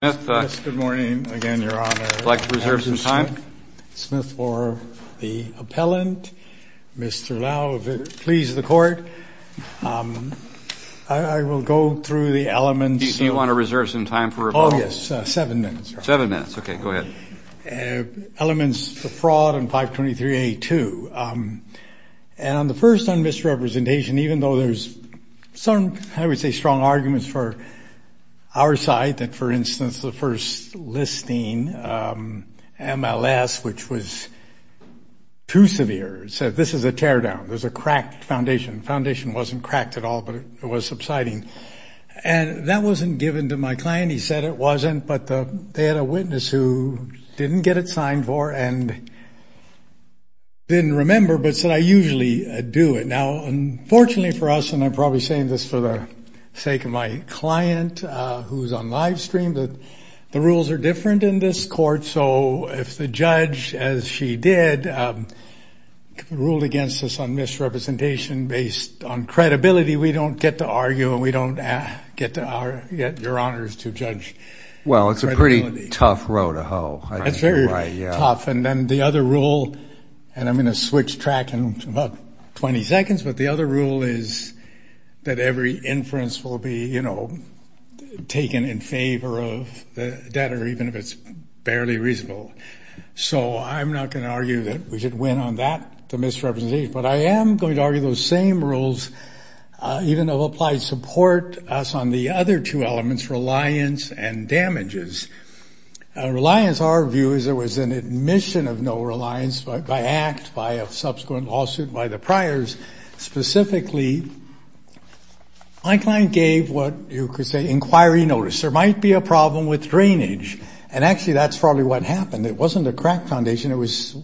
Smith for the Appellant. Mr. Lau, if it pleases the Court, I will go through the elements. Do you want to reserve some time for rebuttal? Oh, yes. Seven minutes. Seven minutes. Okay, go ahead. Elements of fraud in 523A2. And the first on misrepresentation, even though there's some, I would say, strong arguments for our side that, for instance, the first listing, MLS, which was too severe. It said, this is a teardown. There's a cracked foundation. The foundation wasn't cracked at all, but it was subsiding. And that wasn't given to my client. He said it wasn't, but they had a witness who didn't get it signed for and didn't remember, but said, I usually do it. Now, unfortunately for us, and I'm probably saying this for the sake of my client who's on live stream, that the rules are different in this court. So if the judge, as she did, ruled against us on misrepresentation based on credibility, we don't get to argue and we don't get your honors to judge. Well, it's a pretty tough road to hoe. That's very tough. And then the other rule, and I'm going to switch track in about 20 seconds, but the other rule is that every inference will be, you know, taken in favor of the debtor, even if it's barely reasonable. So I'm not going to argue that we should win on that, the misrepresentation, but I am going to argue those same rules, even though applied support us on the other two elements, reliance and damages. Reliance, our view is there was an admission of no reliance by act, by a subsequent lawsuit, by the priors. Specifically, my client gave what you could say inquiry notice. There might be a problem with drainage. And actually, that's probably what happened. It wasn't a crack foundation. It was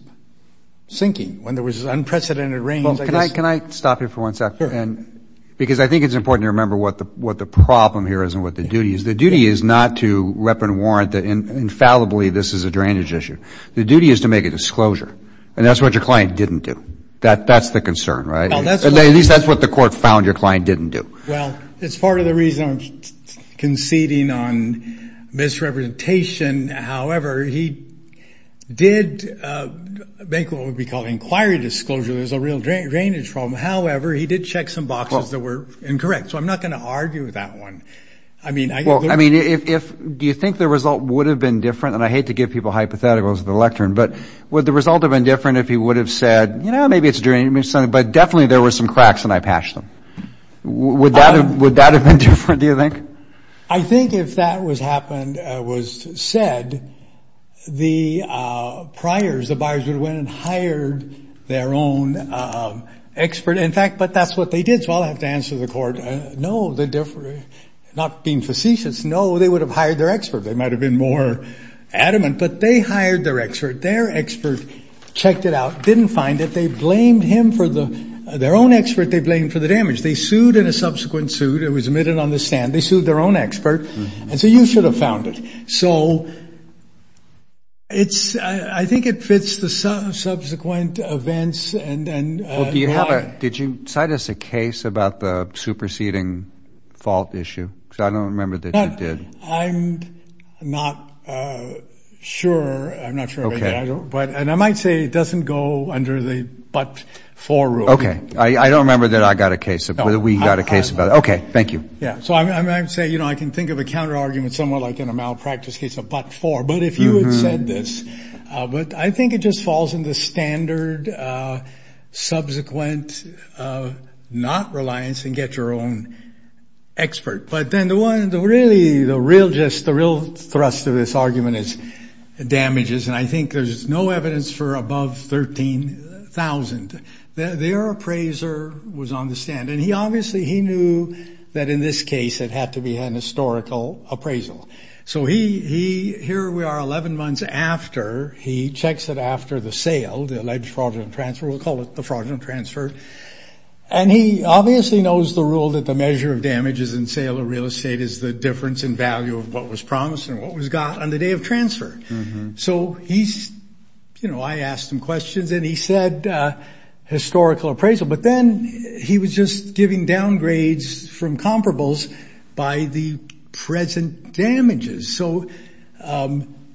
sinking when there was unprecedented rain. Can I stop you for one second? Because I think it's important to remember what the problem here is and what the duty is. The duty is not to weapon warrant that infallibly this is a drainage issue. The duty is to make a disclosure. And that's what your client didn't do. That's the concern, right? At least that's what the court found your client didn't do. Well, it's part of the reason I'm conceding on misrepresentation. However, he did make what would be called inquiry disclosure. There's a real drainage problem. However, he did check some boxes that were incorrect. So I'm not going to argue with that one. I mean, I mean, if you think the result would have been different and I hate to give people hypotheticals of the lectern, but would the result have been different if he would have said, you know, maybe it's drainage, but definitely there were some cracks and I patched them. Would that have been different, do you think? I think if that was happened, was said, the priors, the buyers would have went and hired their own expert. In fact, but that's what they did. So I'll have to answer the court. No, the different, not being facetious. No, they would have hired their expert. They might have been more adamant, but they hired their expert. Their expert checked it out, didn't find it. They blamed him for the, their own expert they blamed for the damage. They sued in a subsequent suit. It was admitted on the stand. They sued their own expert. And so you should have found it. So it's, I think it fits the subsequent events. And, and did you cite us a case about the superseding fault issue? Because I don't remember that you did. I'm not sure. I'm not sure. But, and I might say it doesn't go under the but for rule. Okay. I, I don't remember that I got a case of whether we got a case about it. Okay. Thank you. Yeah. So I'm, I'm, I'm saying, you know, I can think of a counterargument somewhat like in a malpractice case of but for, but if you had said this but I think it just falls in the standard subsequent not reliance and get your own expert. But then the one that really the real, just the real thrust of this argument is damages. And I think there's no evidence for above 13,000. Their appraiser was on the stand. And he obviously, he knew that in this case, it had to be an historical appraisal. So he, he, here we are 11 months after he checks it after the sale, the alleged fraudulent transfer, we'll call it the fraudulent transfer. And he obviously knows the rule that the measure of damages in sale of real estate is the difference in value of what was promised and what was got on the day of you know, I asked him questions and he said historical appraisal, but then he was just giving downgrades from comparables by the present damages. So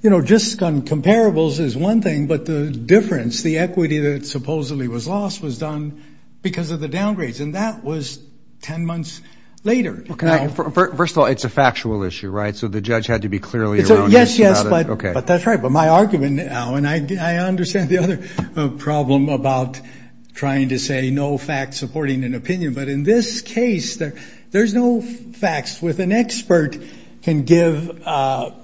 you know, just on comparables is one thing, but the difference, the equity that supposedly was lost was done because of the downgrades. And that was 10 months later. Okay. First of all, it's a factual issue, right? So the judge had to be clearly, yes, yes. But, but that's right. But my argument now, and I understand the other problem about trying to say no facts supporting an opinion, but in this case there, there's no facts with an expert can give a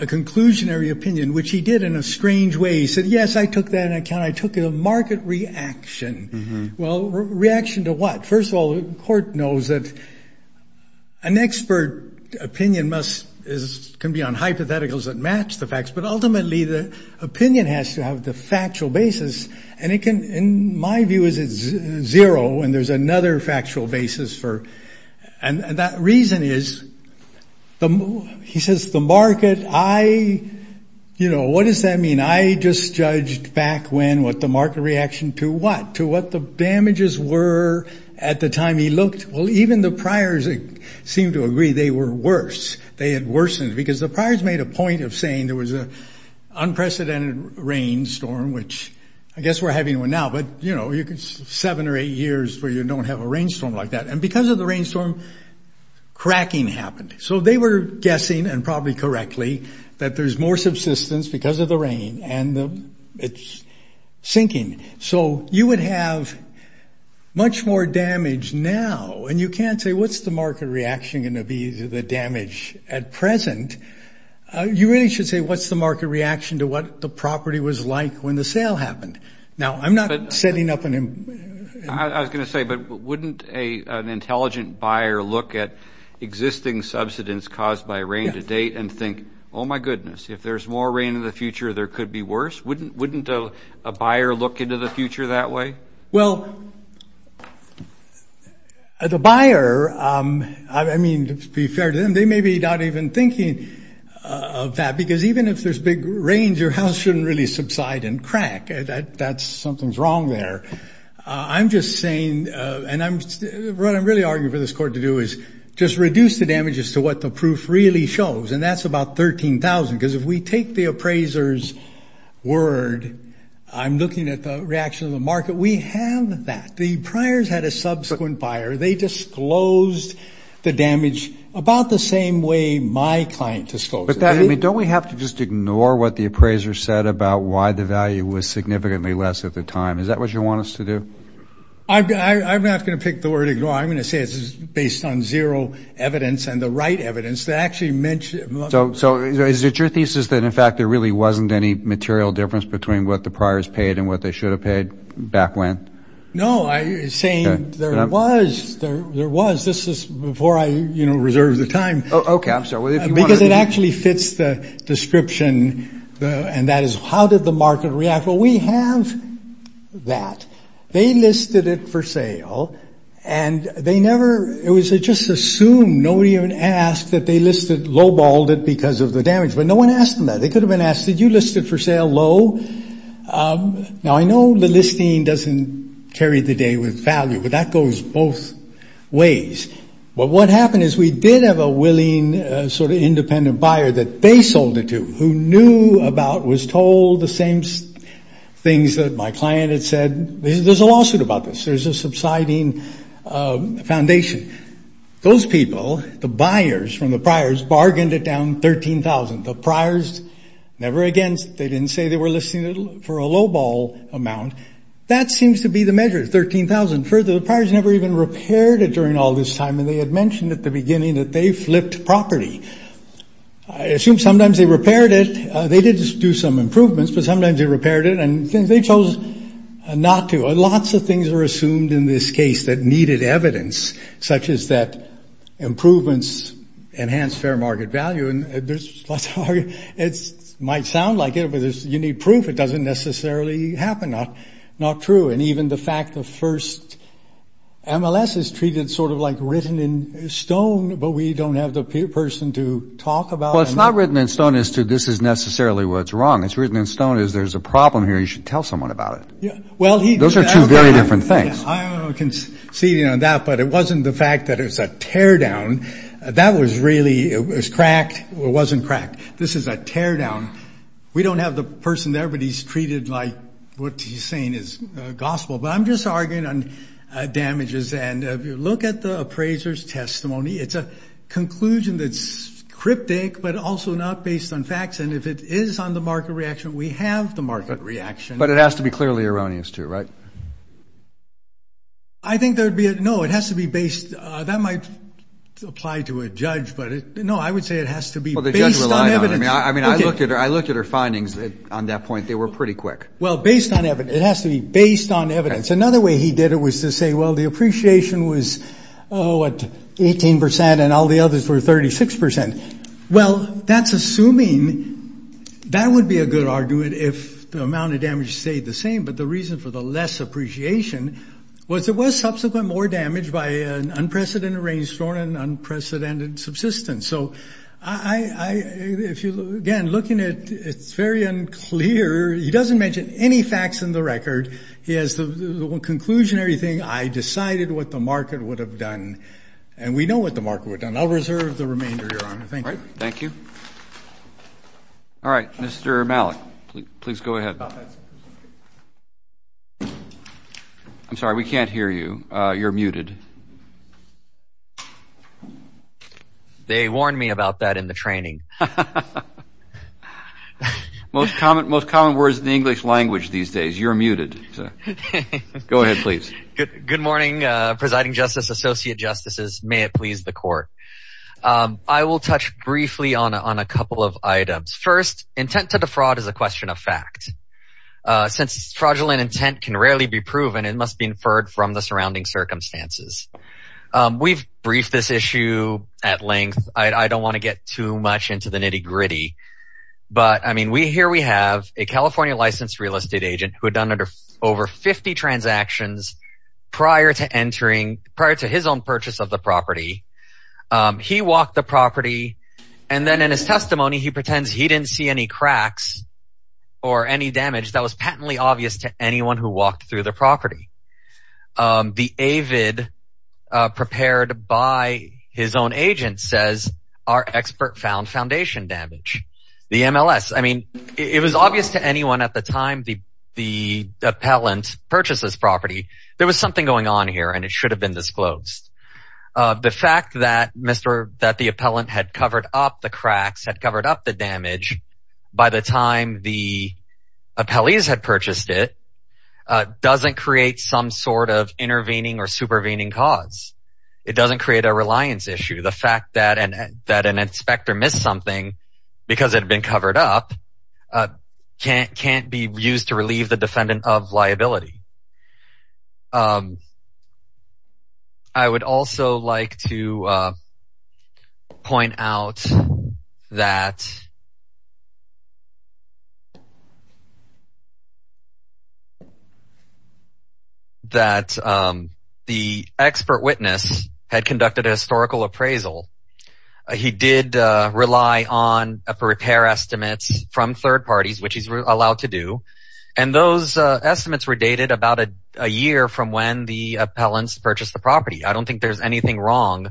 conclusionary opinion, which he did in a strange way. He said, yes, I took that into account. I took a market reaction. Well, reaction to what? First of all, the court knows that an expert opinion must is, can be on hypotheticals that match the facts, but ultimately the opinion has to have the factual basis. And it can, in my view is it's zero. And there's another factual basis for, and that reason is the, he says the market, I, you know, what does that mean? I just judged back when, what the market reaction to what, to what the damages were at the time he looked. Well, even the priors seemed to agree they were worse. They had worsened because the priors made a point of saying there was a unprecedented rainstorm, which I guess we're having one now, but you know, you could seven or eight years where you don't have a rainstorm like that. And because of the rainstorm, cracking happened. So they were guessing, and probably correctly, that there's more subsistence because of the much more damage now. And you can't say what's the market reaction going to be to the damage at present. You really should say, what's the market reaction to what the property was like when the sale happened? Now, I'm not setting up an, I was going to say, but wouldn't a, an intelligent buyer look at existing subsistence caused by rain to date and think, oh my goodness, if there's more rain in the future, there could be worse. Wouldn't, wouldn't a buyer look into the future that way? Well, the buyer, I mean, to be fair to them, they may be not even thinking of that, because even if there's big rains, your house shouldn't really subside and crack. That's, something's wrong there. I'm just saying, and I'm, what I'm really arguing for this court to do is just reduce the damage as to what the proof really shows. And that's about 13,000, because if we take the appraiser's word, I'm looking at the reaction of the market, we have that. The priors had a subsequent buyer. They disclosed the damage about the same way my client disclosed it. But that, I mean, don't we have to just ignore what the appraiser said about why the value was significantly less at the time? Is that what you want us to do? I, I, I'm not going to pick the word ignore. I'm going to say it's based on zero evidence and the right evidence that actually mentioned. So, so is it your thesis that, in fact, there really wasn't any material difference between what the priors paid and what they should have paid back when? No, I, saying there was, there was, this is before I, you know, reserve the time. Okay, I'm sorry. Because it actually fits the description and that is how did the market react? Well, we have that. They listed it for sale and they never, it was just assumed, nobody even asked that they listed lowballed it because of the damage. But no one asked them that. They could have been asked, did you list it for sale low? Now, I know the listing doesn't carry the day with value, but that goes both ways. But what happened is we did have a willing, sort of independent buyer that they sold it to, who knew about, was told the same things that my client had said. There's a lawsuit about this. There's a subsiding foundation. Those people, the clients, they didn't say they were listing it for a lowball amount. That seems to be the measure, $13,000. Further, the priors never even repaired it during all this time and they had mentioned at the beginning that they flipped property. I assume sometimes they repaired it. They did do some improvements, but sometimes they repaired it and they chose not to. Lots of things are assumed in this case that needed evidence, such as that improvements enhance fair market value. It might sound like it, but you need proof. It doesn't necessarily happen. Not true. And even the fact the first MLS is treated sort of like written in stone, but we don't have the person to talk about it. Well, it's not written in stone as to this is necessarily what's wrong. It's written in stone as there's a problem here. You should tell someone about it. Those are two very different things. I'm conceding on that, but it wasn't the fact that it was a teardown. That was really, it was cracked. It wasn't cracked. This is a teardown. We don't have the person there, but he's treated like what he's saying is gospel. But I'm just arguing on damages. And if you look at the appraiser's testimony, it's a conclusion that's cryptic, but also not based on facts. And if it is on the market reaction, we have the market reaction. But it has to be clearly erroneous too, right? I think there'd be a, no, it has to be based. That might apply to a judge, but no, I would say it has to be based on evidence. I mean, I looked at her, I looked at her findings on that point. They were pretty quick. Well, based on evidence, it has to be based on evidence. Another way he did it was to say, well, the appreciation was, oh, what 18% and all the others were 36%. Well, that's assuming that would be a good argument if the amount of damage stayed the same, but the reason for the less appreciation was it was subsequent more damage by an unprecedented rainstorm and unprecedented subsistence. So I, if you look again, looking at it, it's very unclear. He doesn't mention any facts in the record. He has the conclusionary thing. I decided what the market would have done and we know what the market would have done. I'll reserve the remainder, Your Honor. Thank you. All right, Mr. Malik, please go ahead. I'm sorry, we can't hear you. You're muted. They warned me about that in the training. Most common words in the English language these days, you're muted. Go ahead, please. Good morning, Presiding Justice, Associate Justices. May it please the Court. I will touch briefly on a couple of items. First, intent to defraud is a question of fact. Since fraudulent intent can rarely be proven, it must be inferred from the surrounding circumstances. We've briefed this issue at length. I don't want to get too much into the nitty gritty, but, I mean, here we have a California licensed real estate agent who had done over 50 transactions prior to his own purchase of the property. He walked the property and then in his testimony, he pretends he didn't see any cracks or any damage that was patently obvious to anyone who walked through the property. The AVID prepared by his own agent says, our expert found foundation damage. The MLS, I mean, it was obvious to anyone at the time the appellant purchased this property. There was something going on here and it should have been disclosed. The fact that the appellant had covered up the cracks, had covered up the damage, by the time the appellees had purchased it, doesn't create some sort of intervening or supervening cause. It doesn't create a reliance issue. The fact that an inspector missed something because it had been covered up can't be used to relieve the defendant of liability. I would also like to point out that the expert witness had conducted a historical appraisal. He did rely on repair estimates from third parties, which he's allowed to do. Those estimates were dated about a year from when the appellants purchased the property. I don't think there's anything wrong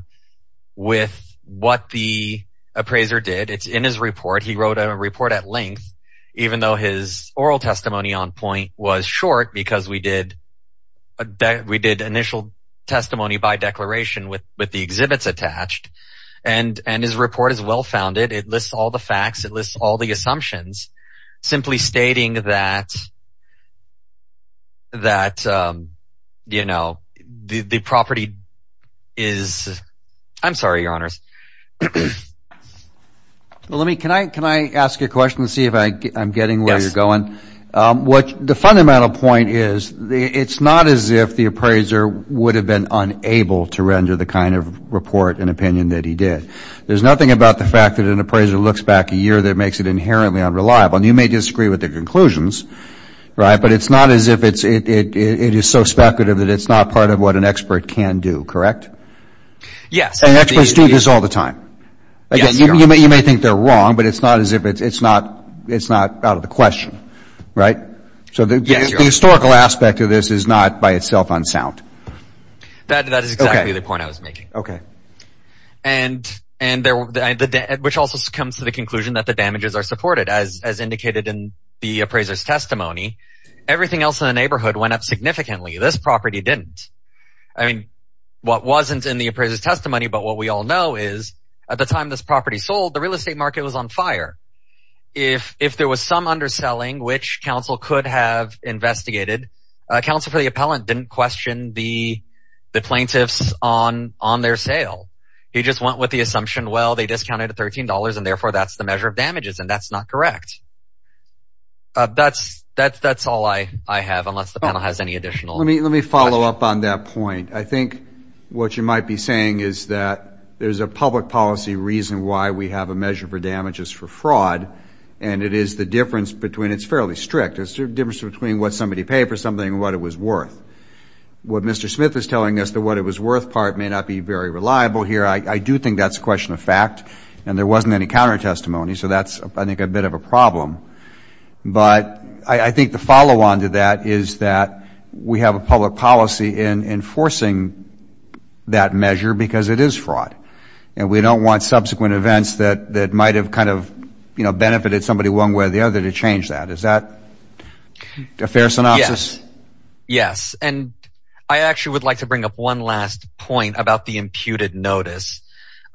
with what the appraiser did. It's in his report. He wrote a report at length, even though his oral testimony on point was short, because we did initial testimony by declaration with the exhibits attached. His report is well-founded. It lists all the facts. It lists all the assumptions, simply stating that the property is... I'm sorry, Your Honors. Can I ask you a question to see if I'm getting where you're going? The fundamental point is it's not as if the appraiser would have been unable to render the kind of report and opinion that he did. There's nothing about the fact that an appraiser looks back a year that makes it inherently unreliable. And you may disagree with the conclusions, right? But it's not as if it's so speculative that it's not part of what an expert can do, correct? Yes. And experts do this all the time. Yes, Your Honors. Again, you may think they're wrong, but it's not as if it's not out of the question, right? Yes, Your Honors. So the historical aspect of this is not by itself unsound. That is exactly the point I was making. Okay. And which also comes to the conclusion that the damages are supported, as indicated in the appraiser's testimony. Everything else in the neighborhood went up significantly. This property didn't. I mean, what wasn't in the appraiser's testimony, but what we all know is at the time this property sold, the real estate market was on fire. If there was some underselling, which counsel could have investigated, counsel for the appellant didn't question the plaintiffs on their sale. He just went with the assumption, well, they discounted at $13, and therefore that's the measure of damages, and that's not correct. That's all I have, unless the panel has any additional... Let me follow up on that point. I think what you might be saying is that there's a public policy reason why we have a measure for damages for fraud, and it is the difference between it's fairly strict. It's the difference between what somebody paid for something and what it was worth. What Mr. Smith is telling us, the what it was worth part may not be very reliable here. I do think that's a question of fact, and there wasn't any counter-testimony, so that's, I think, a bit of a problem. But I think the follow-on to that is that we have a public policy in enforcing that we don't want subsequent events that might have kind of benefited somebody one way or the other to change that. Is that a fair synopsis? Yes. Yes. And I actually would like to bring up one last point about the imputed notice.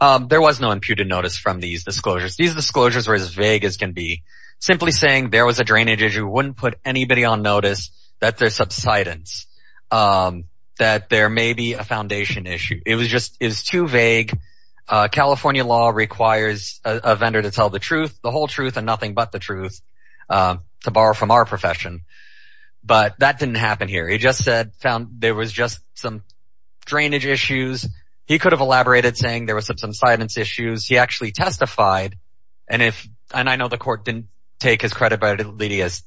There was no imputed notice from these disclosures. These disclosures were as vague as can be. Simply saying there was a drainage issue wouldn't put anybody on notice that there's subsidence, that there may be a foundation issue. It was just, it was too vague. California law requires a vendor to tell the truth, the whole truth, and nothing but the truth, to borrow from our profession. But that didn't happen here. He just said, found there was just some drainage issues. He could have elaborated saying there was some subsidence issues. He actually testified, and if, and I know the court didn't take his credit, but Lydia's,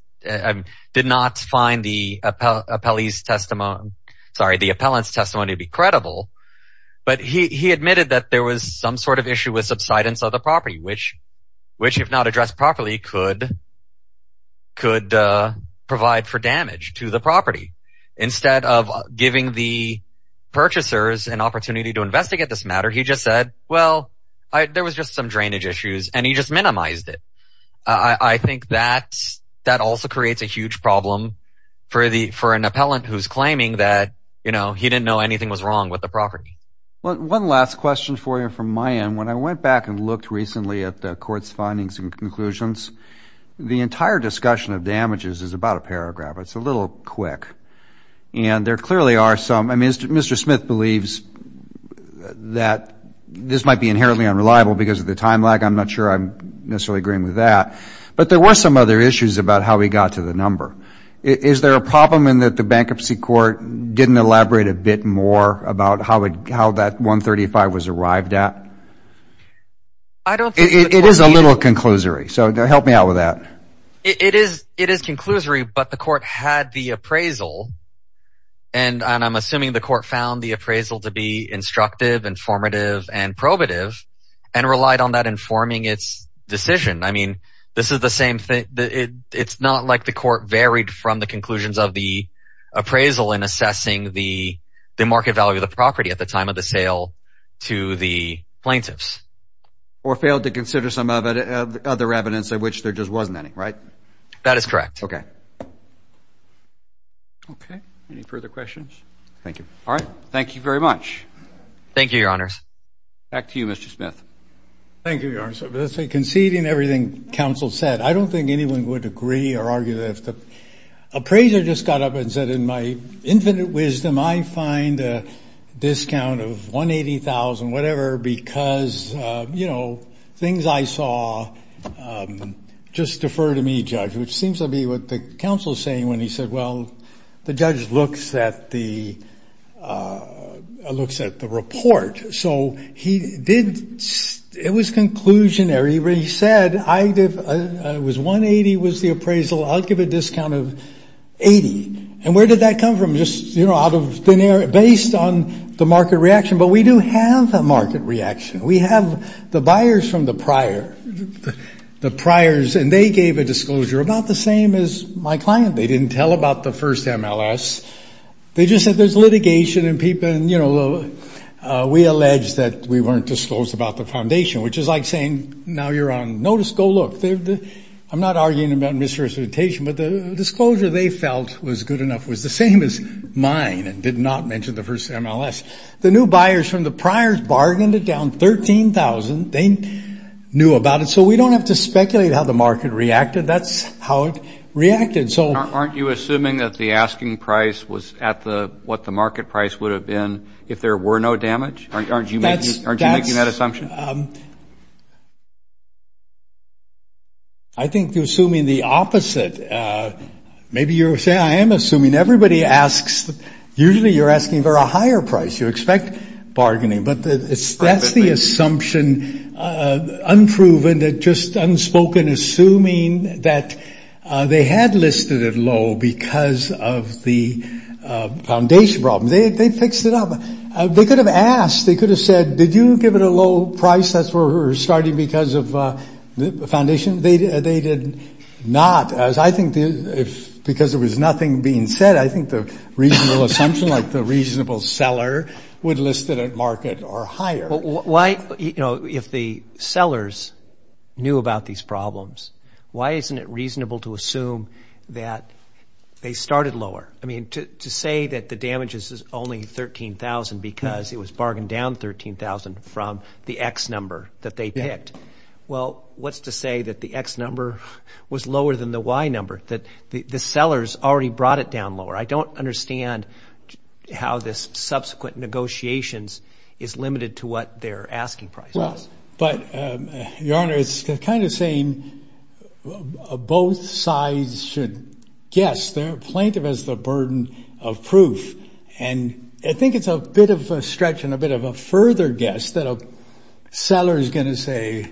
did not find the appellees testimony, sorry, the appellant's testimony to be credible, but he admitted that there was some sort of issue with subsidence of the property, which if not addressed properly could provide for damage to the property. Instead of giving the purchasers an opportunity to investigate this matter, he just said, well, there was just some drainage issues, and he just minimized it. I think that also creates a huge problem for an appellant who's claiming that, you know, he didn't know anything was wrong with the property. Well, one last question for you from my end. When I went back and looked recently at the court's findings and conclusions, the entire discussion of damages is about a paragraph. It's a little quick, and there clearly are some, I mean, Mr. Smith believes that this might be inherently unreliable because of the time lag. I'm not sure I'm necessarily agreeing with that, but there were some other issues about how he got to the number. Is there a problem in that the bankruptcy court didn't elaborate a bit more about how that 135 was arrived at? It is a little conclusory, so help me out with that. It is conclusory, but the court had the appraisal, and I'm assuming the court found the appraisal to be instructive, informative, and probative, and relied on that informing its decision. I mean, this is the same thing. It's not like the court varied from the conclusions of the appraisal in assessing the market value of the property at the time of the sale to the plaintiffs. Or failed to consider some other evidence of which there just wasn't any, right? That is correct. Okay. Okay. Any further questions? Thank you. All right. Thank you very much. Thank you, Your Honors. Back to you, Mr. Smith. Thank you, Your Honors. Conceding everything counsel said, I don't think anyone would agree or argue that if the appraiser just got up and said, in my infinite wisdom, I find a discount of $180,000, whatever, because, you know, things I saw just defer to me, judge. Which seems to be what the counsel is saying when he said, well, the judge looks at the report. So he did, it was conclusionary, where he said, it was $180,000 was the appraisal. I'll give a discount of $80,000. And where did that come from? Just, you know, out of based on the market reaction. But we do have a market reaction. We have the buyers from the prior, the priors, and they gave a disclosure about the same as my client. They didn't tell about the first MLS. They just said there's litigation and people, and, you know, we allege that we weren't disclosed about the foundation, which is like saying, now you're on notice, go look. I'm not arguing about misrepresentation, but the disclosure they felt was good enough was the same as mine and did not mention the first MLS. The new buyers from the priors bargained it down $13,000. They knew about it. So we don't have to speculate how the market reacted. That's how it reacted. Aren't you assuming that the asking price was at what the market price would have been if there were no damage? Aren't you making that assumption? I think you're assuming the opposite. Maybe you're saying, I am assuming everybody asks, usually you're asking for a higher price. You expect bargaining. But that's the assumption, unproven, just unspoken, assuming that they had listed it low because of the foundation problem. They fixed it up. They could have asked. They could have said, did you give it a low price? That's where we're starting because of the foundation. They did not. I think because there was nothing being said, I think the reasonable assumption, like the sellers knew about these problems, why isn't it reasonable to assume that they started lower? To say that the damage is only $13,000 because it was bargained down $13,000 from the X number that they picked, well, what's to say that the X number was lower than the Y number? The sellers already brought it down lower. I don't understand how this subsequent negotiations is limited to what their asking price is. Your Honor, it's kind of saying both sides should guess. They're plaintive as the burden of proof. I think it's a bit of a stretch and a bit of a further guess that a seller is going to say,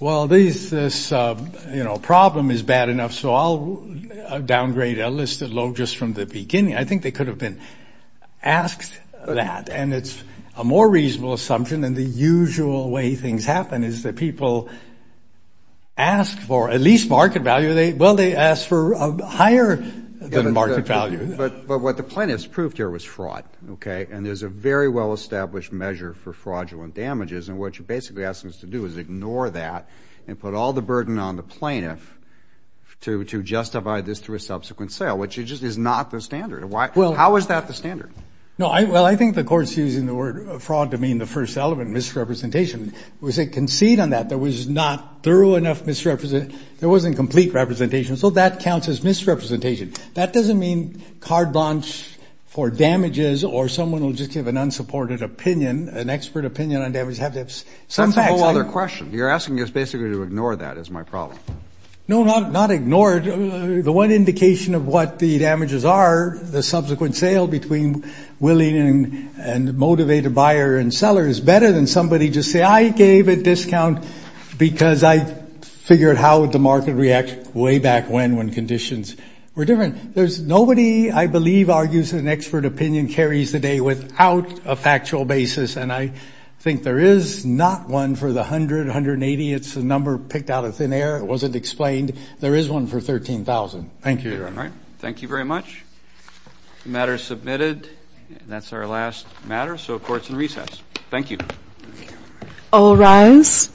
well, this problem is bad enough, so I'll downgrade, I'll list it low just from the beginning. I think they could have been asked that and it's a more reasonable assumption than the usual way things happen is that people ask for at least market value. Well, they ask for higher than market value. But what the plaintiffs proved here was fraud. And there's a very well established measure for fraudulent damages. And what you're basically asking us to do is ignore that and put all the burden on the plaintiff to justify this through a subsequent sale, which is just not the standard. How is that the standard? Well, I think the court's using the word fraud to mean the first element, misrepresentation. It was a conceit on that. There was not thorough enough misrepresentation. There wasn't complete representation. So that counts as misrepresentation. That doesn't mean card bonds for damages or someone will just give an unsupported opinion, an expert opinion on damages. That's a whole other question. You're asking us basically to ignore that is my problem. No, not ignored. The one indication of what the damages are, the subsequent sale between willing and motivated buyer and seller is better than somebody just say, I gave a discount because I figured out how the market reacts way back when, when conditions were different. Nobody, I believe, argues an expert opinion carries the day without a factual basis. And I think there is not one for the 100, 180. It's a number picked out of thin air. It wasn't explained. There is one for 13,000. Thank you. All right. Thank you very much. The matter is submitted. That's our last matter. So court's in recess. Thank you. All rise.